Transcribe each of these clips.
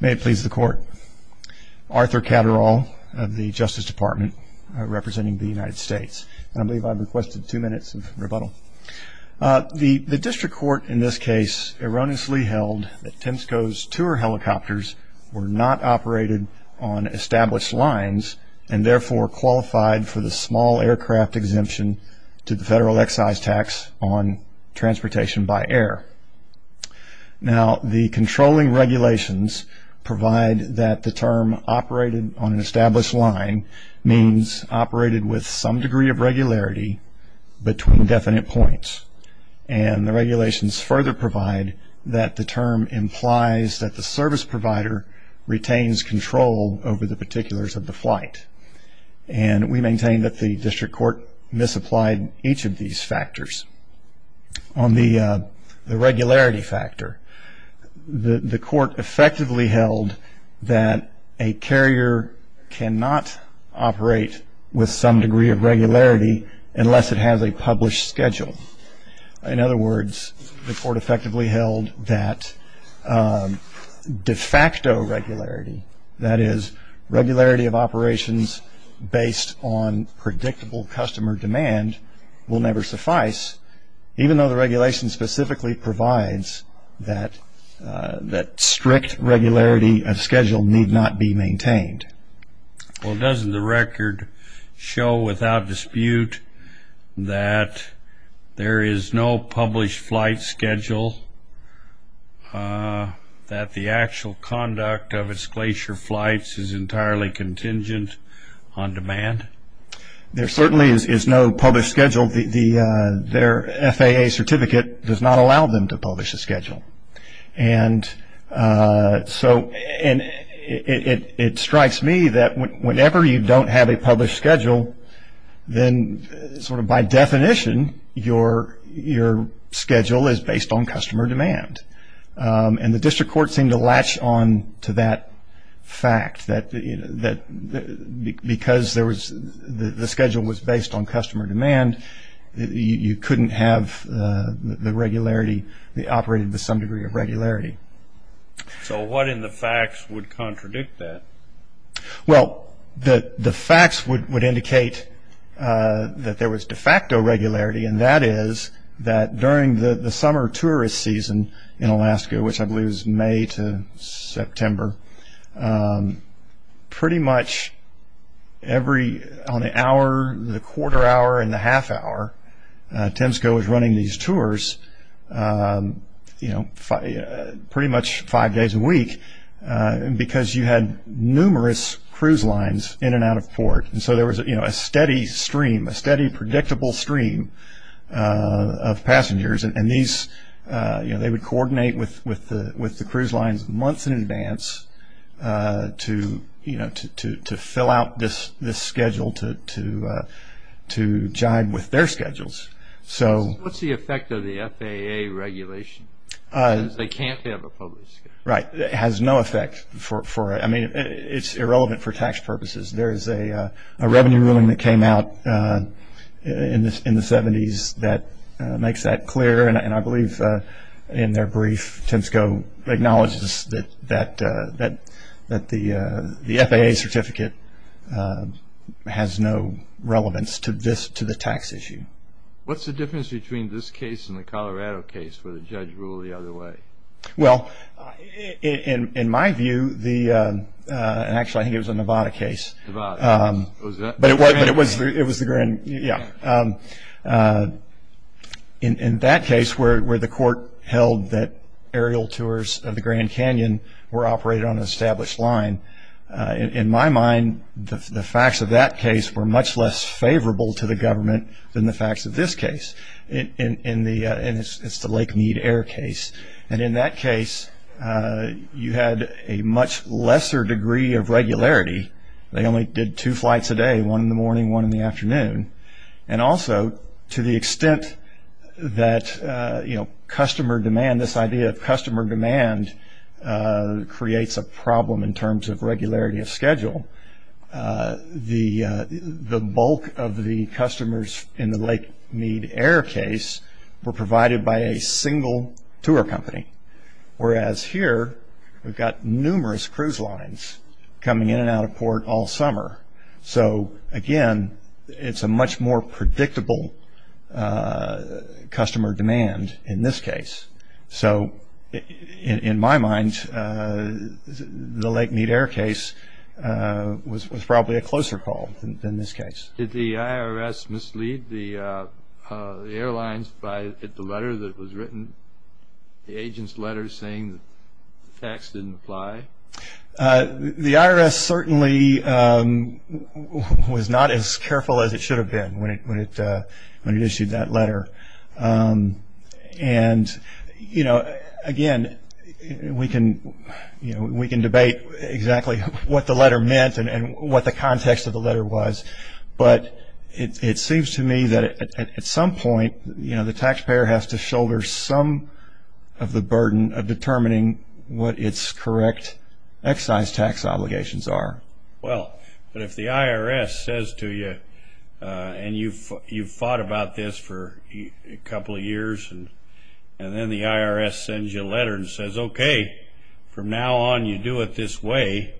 May it please the Court. Arthur Catterall of the Justice Department, representing the United States. And I believe I've requested two minutes of rebuttal. The district court in this case erroneously held that Temsco's tour helicopters were not operated on established lines and therefore qualified for the small aircraft exemption to the federal excise tax on transportation by air. Now the controlling regulations provide that the term operated on an established line means operated with some degree of regularity between definite points. And the regulations further provide that the term implies that the service provider retains control over the particulars of the flight. And we maintain that the district court misapplied each of these factors. On the regularity factor, the court effectively held that a carrier cannot operate with some degree of regularity unless it has a published schedule. In other words, the court effectively held that de facto regularity, that is regularity of operations based on predictable customer demand, will never suffice, even though the regulation specifically provides that strict regularity of schedule need not be maintained. Well, doesn't the record show without dispute that there is no published flight schedule, that the actual conduct of its glacier There certainly is no published schedule. Their FAA certificate does not allow them to publish a schedule. And so it strikes me that whenever you don't have a published schedule, then sort of by definition, your schedule is based on customer demand. And the district court seemed to latch on to that fact, that because the schedule was based on customer demand, you couldn't have the regularity operated with some degree of regularity. So what in the facts would contradict that? Well, the facts would indicate that there was de facto regularity, and that is that during the summer tourist season in Alaska, which I believe is May to September, pretty much every, on the hour, the quarter hour, and the half hour, Temsco was running these tours pretty much five days a week because you had numerous cruise lines in and out of port. And so there was a steady stream, a steady predictable stream of passengers, and they would coordinate with the cruise lines months in What's the effect of the FAA regulation? Because they can't have a published schedule. Right. It has no effect. I mean, it's irrelevant for tax purposes. There is a revenue ruling that came out in the 70s that makes that clear, and I believe in their brief, Temsco acknowledges that the FAA certificate has no relevance to the tax issue. What's the difference between this case and the Colorado case where the judge ruled the other way? Well, in my view, and actually I think it was a Nevada case. Nevada. But it was the Grand, yeah. In that case where the court held that aerial tours of the Grand Canyon were operated on an established line, in my mind, the facts of that case were much less favorable to the government than the facts of this case, and it's the Lake Mead Air case. And in that case, you had a much lesser degree of regularity. They only did two flights a day, one in the morning, one in the afternoon. And also, to the extent that customer demand, this idea of customer demand, creates a problem in terms of regularity of schedule. The bulk of the customers in the Lake Mead Air case were provided by a single tour company, whereas here, we've got numerous cruise lines coming in and out of port all summer. So, again, it's a much more predictable customer demand in this case. So, in my mind, the Lake Mead Air case was probably a closer call than this case. Did the IRS mislead the airlines by the letter that was written, the agent's letter saying the tax didn't apply? The IRS certainly was not as careful as it should have been when it issued that letter. And, you know, again, we can debate exactly what the letter meant and what the context of the letter was, but it seems to me that at some point, you know, the taxpayer has to shoulder some of the burden of determining what its correct excise tax obligations are. Well, if the IRS says to you, and you've thought about this for a couple of years, and then the IRS sends you a letter and says, okay, from now on, you do it this way,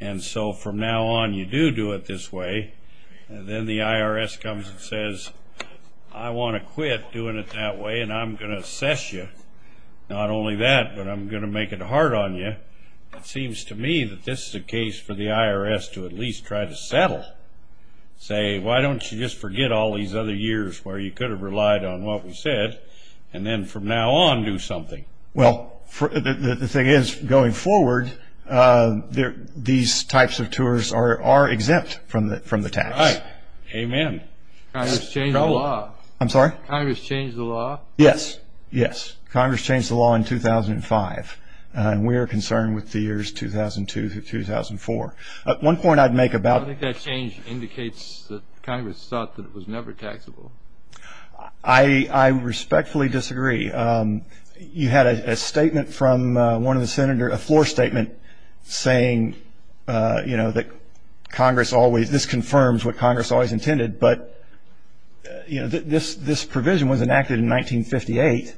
and so from now on, you do do it this way, and then the IRS comes and says, I want to quit doing it that way, and I'm going to assess you. Not only that, but I'm going to make it hard on you. It seems to me that this is a case for the IRS to at least try to settle. Say, why don't you just forget all these other years where you could have relied on what we said, and then from now on, do something. Well, the thing is, going forward, these types of tours are exempt from the tax. All right. Amen. Congress changed the law. I'm sorry? Congress changed the law? Yes. Yes. Congress changed the law in 2005, and we are concerned with the years 2002 through 2004. One point I'd make about it. I think that change indicates that Congress thought that it was never taxable. I respectfully disagree. You had a statement from one of the Senators, a floor statement, saying that Congress always, this confirms what Congress always intended, but this provision was enacted in 1958.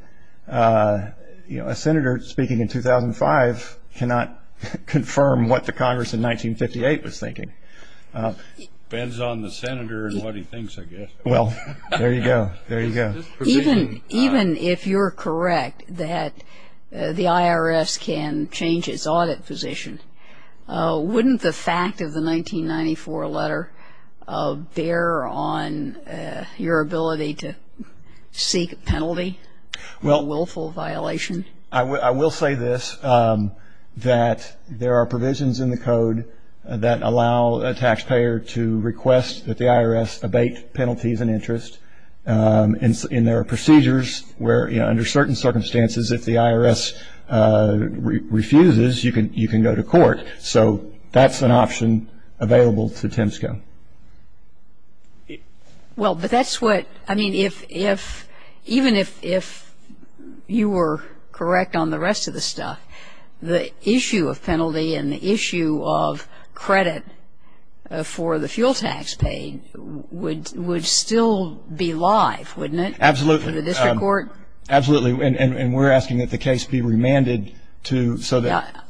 A Senator speaking in 2005 cannot confirm what the Congress in 1958 was thinking. It depends on the Senator and what he thinks, I guess. Well, there you go. There you go. Even if you're correct that the IRS can change its audit position, wouldn't the fact of the 1994 letter bear on your ability to seek a penalty, a willful violation? I will say this, that there are provisions in the code that allow a taxpayer to request that the IRS abate penalties and interest, and there are procedures where, you know, under certain circumstances, if the IRS refuses, you can go to court. So that's an option available to Temsco. Well, but that's what, I mean, if, even if you were correct on the rest of the stuff, the issue of penalty and the issue of credit for the fuel tax paid would still be live, wouldn't it? Absolutely. For the district court? Absolutely. And we're asking that the case be remanded to, so that.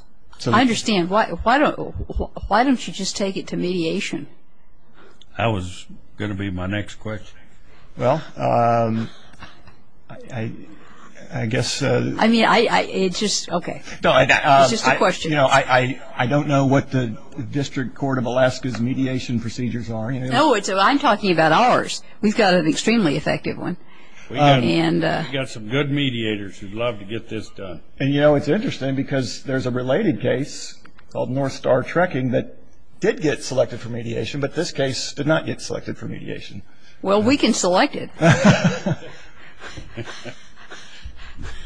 I understand. Why don't you just take it to mediation? That was going to be my next question. Well, I guess. I mean, it's just, okay. It's just a question. You know, I don't know what the district court of Alaska's mediation procedures are. No, I'm talking about ours. We've got an extremely effective one. We've got some good mediators who'd love to get this done. And, you know, it's interesting because there's a related case called North Star Trekking that did get selected for mediation, but this case did not get selected for mediation. Well, we can select it.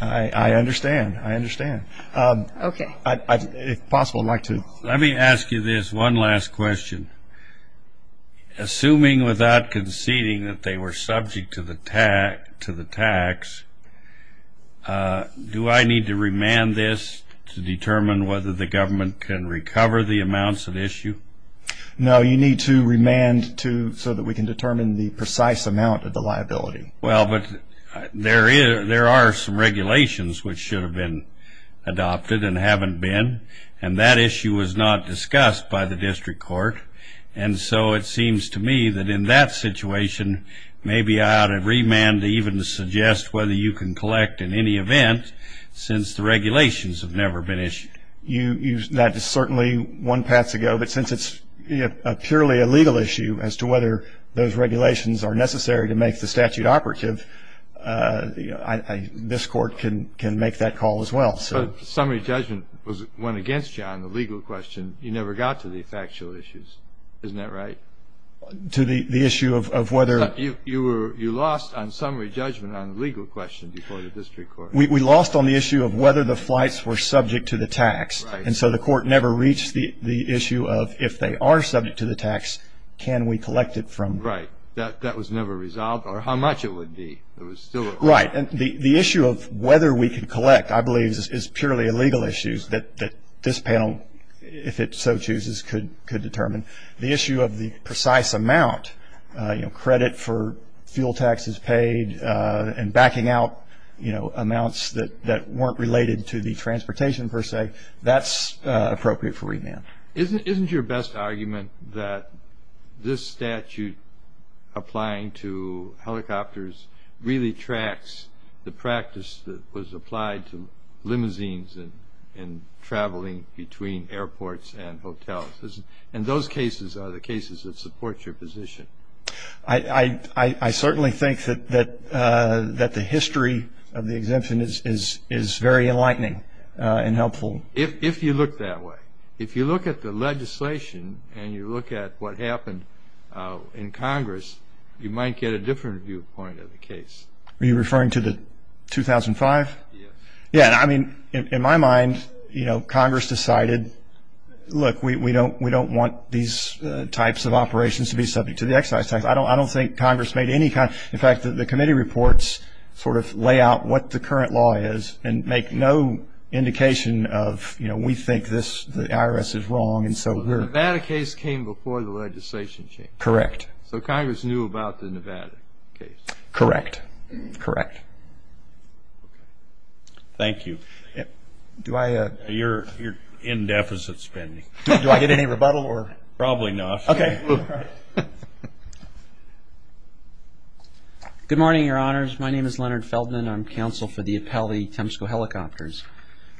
I understand. I understand. Okay. If possible, I'd like to. Let me ask you this one last question. Assuming without conceding that they were subject to the tax, do I need to remand this to determine whether the government can recover the amounts at issue? No, you need to remand so that we can determine the precise amount of the liability. Well, but there are some regulations which should have been adopted and haven't been, and that issue was not discussed by the district court. And so it seems to me that in that situation, maybe I ought to remand to even suggest whether you can collect in any event since the regulations have never been issued. That is certainly one path to go, but since it's purely a legal issue as to whether those regulations are necessary to make the statute operative, this court can make that call as well. But summary judgment went against you on the legal question. You never got to the factual issues. Isn't that right? To the issue of whether? You lost on summary judgment on the legal question before the district court. We lost on the issue of whether the flights were subject to the tax, and so the court never reached the issue of if they are subject to the tax, can we collect it from? Right. That was never resolved, or how much it would be. Right. And the issue of whether we can collect, I believe, is purely a legal issue that this panel, if it so chooses, could determine. The issue of the precise amount, you know, credit for fuel taxes paid and backing out, you know, amounts that weren't related to the transportation per se, that's appropriate for remand. Isn't your best argument that this statute applying to helicopters really tracks the practice that was applied to limousines and traveling between airports and hotels? And those cases are the cases that support your position. I certainly think that the history of the exemption is very enlightening and helpful. If you look that way, if you look at the legislation and you look at what happened in Congress, you might get a different viewpoint of the case. Are you referring to the 2005? Yes. Yeah. I mean, in my mind, you know, Congress decided, look, we don't want these types of operations to be subject to the excise tax. I don't think Congress made any kind of – in fact, the committee reports sort of lay out what the current law is and make no indication of, you know, we think the IRS is wrong. So the Nevada case came before the legislation changed. Correct. So Congress knew about the Nevada case. Correct. Correct. Okay. Thank you. Do I – You're in deficit spending. Do I get any rebuttal or – Probably not. Okay. All right. Good morning, Your Honors. My name is Leonard Feldman. I'm counsel for the Appellee Tempsco Helicopters.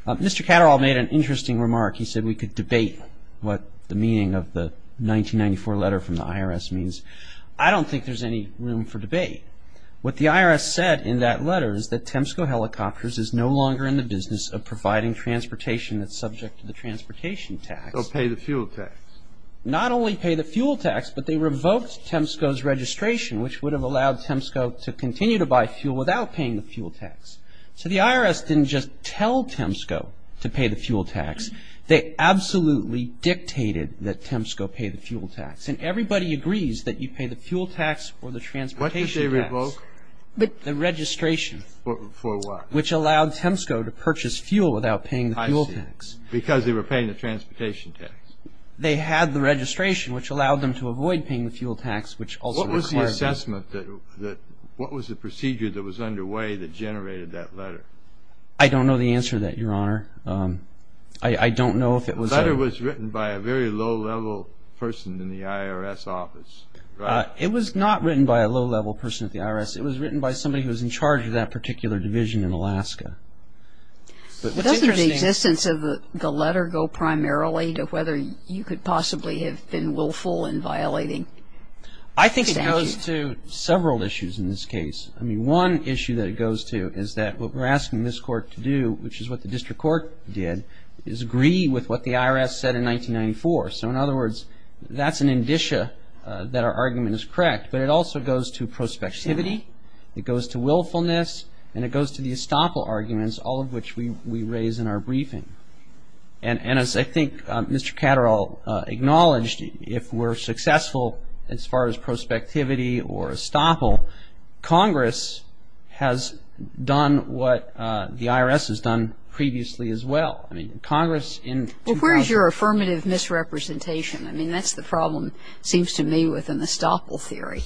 Mr. Catterall made an interesting remark. He said we could debate what the meaning of the 1994 letter from the IRS means. I don't think there's any room for debate. What the IRS said in that letter is that Tempsco Helicopters is no longer in the business of providing transportation that's subject to the transportation tax. So pay the fuel tax. Not only pay the fuel tax, but they revoked Tempsco's registration, which would have allowed Tempsco to continue to buy fuel without paying the fuel tax. So the IRS didn't just tell Tempsco to pay the fuel tax. They absolutely dictated that Tempsco pay the fuel tax. And everybody agrees that you pay the fuel tax or the transportation tax. What did they revoke? The registration. For what? Which allowed Tempsco to purchase fuel without paying the fuel tax. I see. Because they were paying the transportation tax. They had the registration, which allowed them to avoid paying the fuel tax, which also required it. What was the assessment that what was the procedure that was underway that generated that letter? I don't know the answer to that, Your Honor. I don't know if it was a – The letter was written by a very low-level person in the IRS office, right? It was not written by a low-level person at the IRS. It was written by somebody who was in charge of that particular division in Alaska. Doesn't the existence of the letter go primarily to whether you could possibly have been willful in violating sanctions? I think it goes to several issues in this case. I mean, one issue that it goes to is that what we're asking this court to do, which is what the district court did, is agree with what the IRS said in 1994. So in other words, that's an indicia that our argument is correct. But it also goes to prospectivity. It goes to willfulness. And it goes to the estoppel arguments, all of which we raise in our briefing. And as I think Mr. Catterall acknowledged, if we're successful as far as prospectivity or estoppel, Congress has done what the IRS has done previously as well. I mean, Congress in – Well, where is your affirmative misrepresentation? I mean, that's the problem, it seems to me, with an estoppel theory.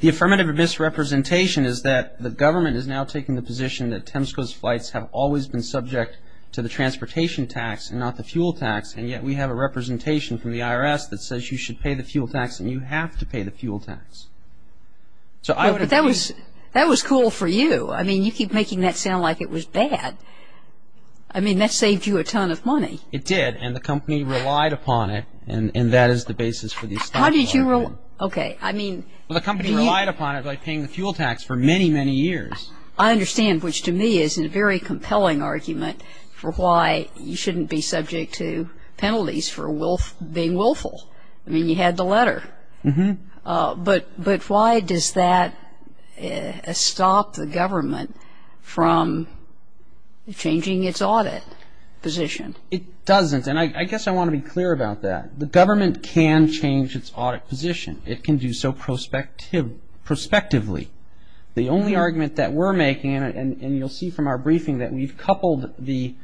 The affirmative misrepresentation is that the government is now taking the position that Temsco's flights have always been subject to the transportation tax and not the fuel tax, and yet we have a representation from the IRS that says you should pay the fuel tax, and you have to pay the fuel tax. So I would – Well, but that was cool for you. I mean, you keep making that sound like it was bad. I mean, that saved you a ton of money. It did, and the company relied upon it, and that is the basis for the estoppel argument. How did you – okay, I mean – Well, the company relied upon it by paying the fuel tax for many, many years. I understand, which to me is a very compelling argument for why you shouldn't be subject to penalties for being willful. I mean, you had the letter. But why does that stop the government from changing its audit position? It doesn't, and I guess I want to be clear about that. The government can change its audit position. It can do so prospectively. The only argument that we're making, and you'll see from our briefing that we've coupled the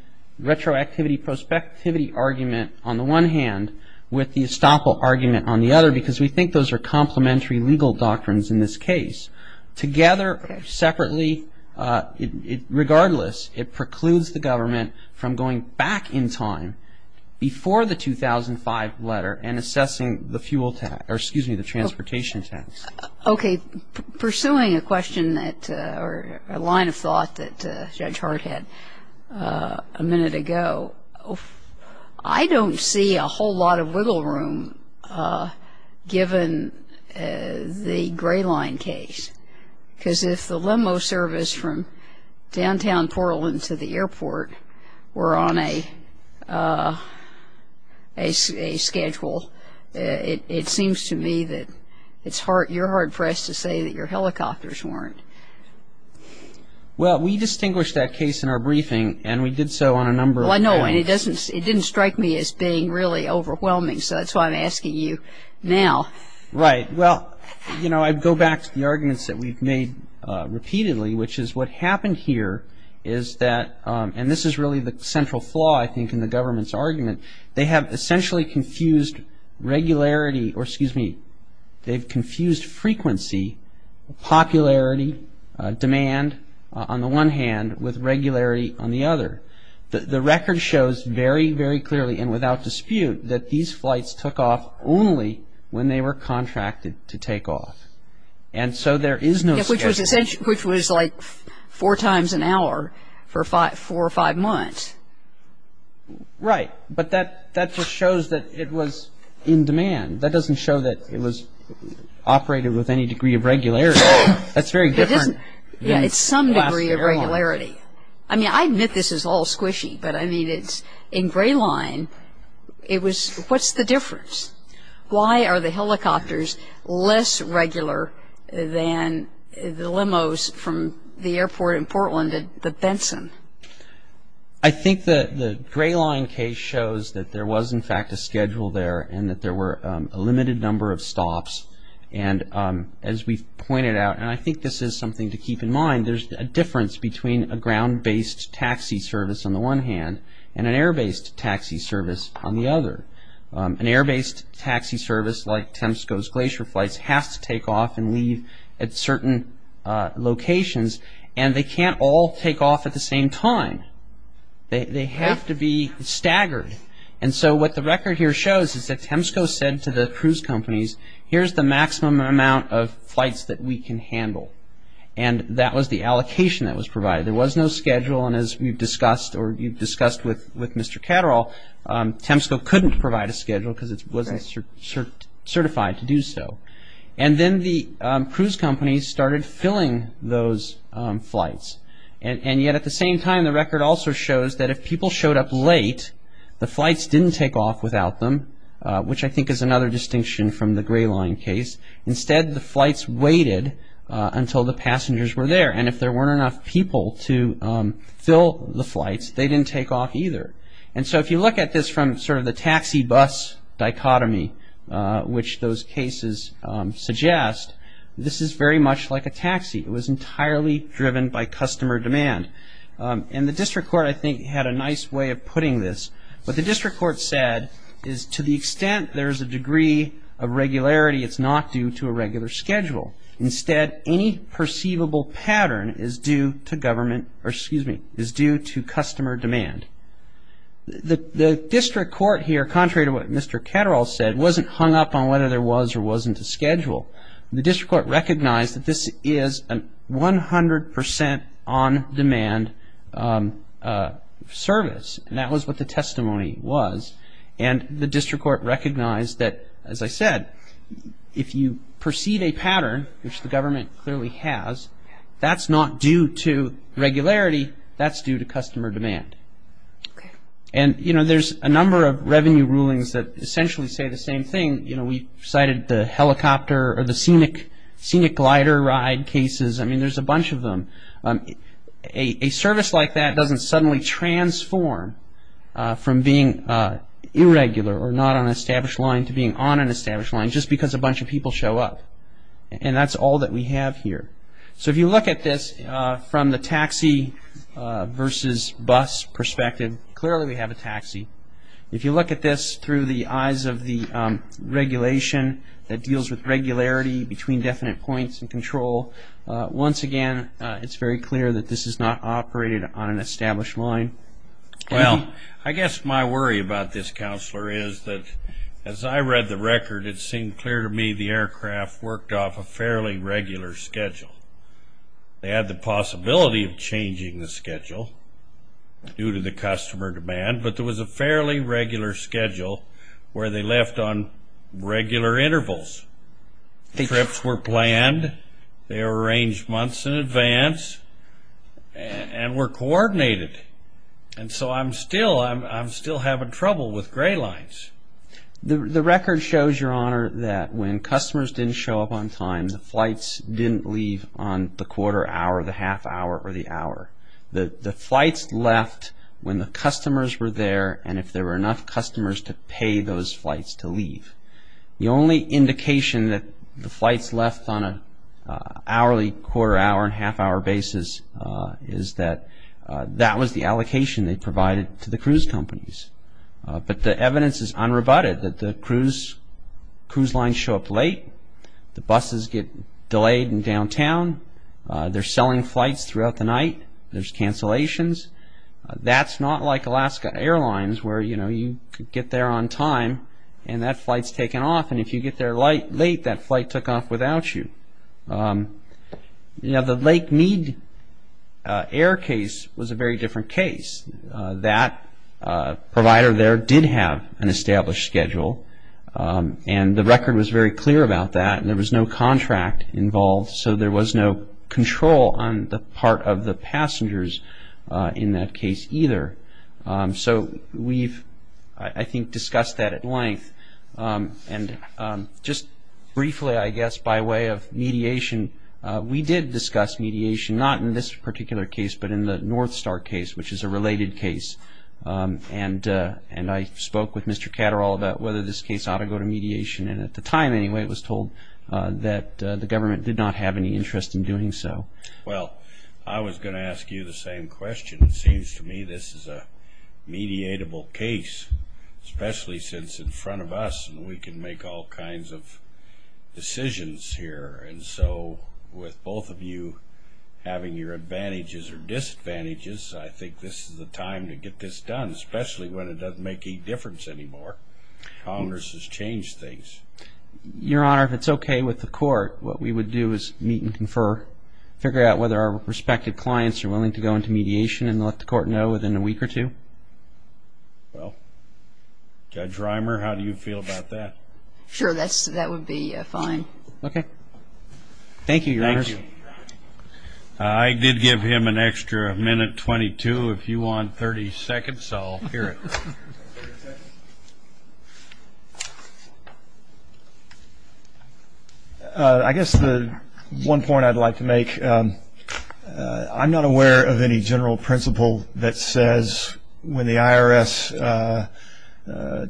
retroactivity prospectivity argument on the one hand with the estoppel argument on the other because we think those are complementary legal doctrines in this case. Together, separately, regardless, it precludes the government from going back in time before the 2005 letter and assessing the fuel tax – or excuse me, the transportation tax. Okay. Pursuing a question that – or a line of thought that Judge Hart had a minute ago, I don't see a whole lot of wiggle room given the Gray Line case. Because if the limo service from downtown Portland to the airport were on a schedule, it seems to me that it's hard – you're hard-pressed to say that your helicopters weren't. Well, we distinguished that case in our briefing, and we did so on a number of – Well, I know, and it didn't strike me as being really overwhelming, so that's why I'm asking you now. Right. Well, you know, I'd go back to the arguments that we've made repeatedly, which is what happened here is that – and this is really the central flaw, I think, in the government's argument. They have essentially confused regularity – or excuse me, they've confused frequency, popularity, demand, on the one hand, with regularity on the other. The record shows very, very clearly and without dispute that these flights took off only when they were contracted to take off. And so there is no – Which was like four times an hour for four or five months. Right. But that just shows that it was in demand. That doesn't show that it was operated with any degree of regularity. That's very different. It's some degree of regularity. I mean, I admit this is all squishy, but, I mean, it's – in Gray Line, it was – what's the difference? Why are the helicopters less regular than the limos from the airport in Portland at Benson? I think the Gray Line case shows that there was, in fact, a schedule there and that there were a limited number of stops. And as we've pointed out, and I think this is something to keep in mind, there's a difference between a ground-based taxi service on the one hand and an air-based taxi service on the other. An air-based taxi service like Temsco's Glacier Flights has to take off and leave at certain locations and they can't all take off at the same time. They have to be staggered. And so what the record here shows is that Temsco said to the cruise companies, here's the maximum amount of flights that we can handle. And that was the allocation that was provided. There was no schedule, and as we've discussed or you've discussed with Mr. Catterall, Temsco couldn't provide a schedule because it wasn't certified to do so. And then the cruise companies started filling those flights. And yet at the same time, the record also shows that if people showed up late, the flights didn't take off without them, which I think is another distinction from the Gray Line case. Instead, the flights waited until the passengers were there. And if there weren't enough people to fill the flights, they didn't take off either. And so if you look at this from sort of the taxi-bus dichotomy, which those cases suggest, this is very much like a taxi. It was entirely driven by customer demand. And the district court, I think, had a nice way of putting this. What the district court said is to the extent there is a degree of regularity, it's not due to a regular schedule. Instead, any perceivable pattern is due to customer demand. The district court here, contrary to what Mr. Catterall said, wasn't hung up on whether there was or wasn't a schedule. The district court recognized that this is a 100 percent on-demand service, and that was what the testimony was. And the district court recognized that, as I said, if you perceive a pattern, which the government clearly has, that's not due to regularity, that's due to customer demand. And, you know, there's a number of revenue rulings that essentially say the same thing. We cited the helicopter or the scenic glider ride cases. I mean, there's a bunch of them. A service like that doesn't suddenly transform from being irregular or not on an established line to being on an established line just because a bunch of people show up. And that's all that we have here. So if you look at this from the taxi-versus-bus perspective, clearly we have a taxi. If you look at this through the eyes of the regulation that deals with regularity between definite points and control, once again, it's very clear that this is not operated on an established line. Well, I guess my worry about this, Counselor, is that, as I read the record, it seemed clear to me the aircraft worked off a fairly regular schedule. They had the possibility of changing the schedule due to the customer demand, but there was a fairly regular schedule where they left on regular intervals. Trips were planned. They were arranged months in advance and were coordinated. And so I'm still having trouble with gray lines. The record shows, Your Honor, that when customers didn't show up on time, the flights didn't leave on the quarter hour, the half hour, or the hour. The flights left when the customers were there and if there were enough customers to pay those flights to leave. The only indication that the flights left on an hourly quarter hour and half hour basis is that that was the allocation they provided to the cruise companies. But the evidence is unrebutted that the cruise lines show up late. The buses get delayed in downtown. They're selling flights throughout the night. There's cancellations. That's not like Alaska Airlines where you could get there on time and that flight's taken off and if you get there late, that flight took off without you. The Lake Mead Air case was a very different case. That provider there did have an established schedule and the record was very clear about that and there was no contract involved so there was no control on the part of the passengers in that case either. So we've, I think, discussed that at length and just briefly, I guess, by way of mediation, we did discuss mediation not in this particular case but in the North Star case which is a related case and I spoke with Mr. Catterall about whether this case ought to go to mediation and at the time, anyway, it was told that the government did not have any interest in doing so. Well, I was going to ask you the same question. It seems to me this is a mediatable case, especially since in front of us we can make all kinds of decisions here and so with both of you having your advantages or disadvantages, I think this is the time to get this done, especially when it doesn't make any difference anymore. Congress has changed things. Your Honor, if it's okay with the court, what we would do is meet and confer, figure out whether our respective clients are willing to go into mediation and let the court know within a week or two. Well, Judge Reimer, how do you feel about that? Sure, that would be fine. Okay. Thank you, Your Honor. Thank you. I did give him an extra minute 22. If you want 30 seconds, I'll hear it. I guess the one point I'd like to make, I'm not aware of any general principle that says when the IRS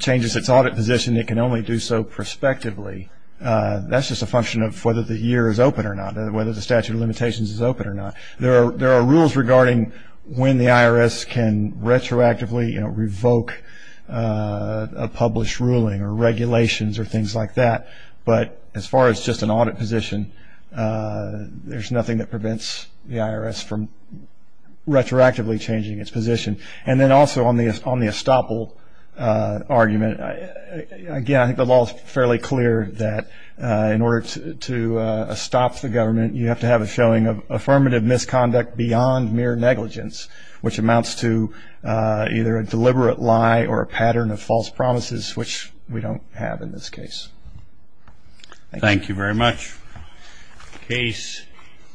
changes its audit position, it can only do so prospectively. That's just a function of whether the year is open or not, whether the statute of limitations is open or not. There are rules regarding when the IRS can retroactively revoke a published ruling or regulations or things like that, but as far as just an audit position, there's nothing that prevents the IRS from retroactively changing its position. And then also on the estoppel argument, again, I think the law is fairly clear that in order to estop the government, you have to have a showing of affirmative misconduct beyond mere negligence, which amounts to either a deliberate lie or a pattern of false promises, which we don't have in this case. Thank you very much. Case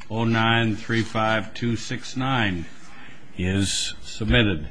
09-35269 is submitted.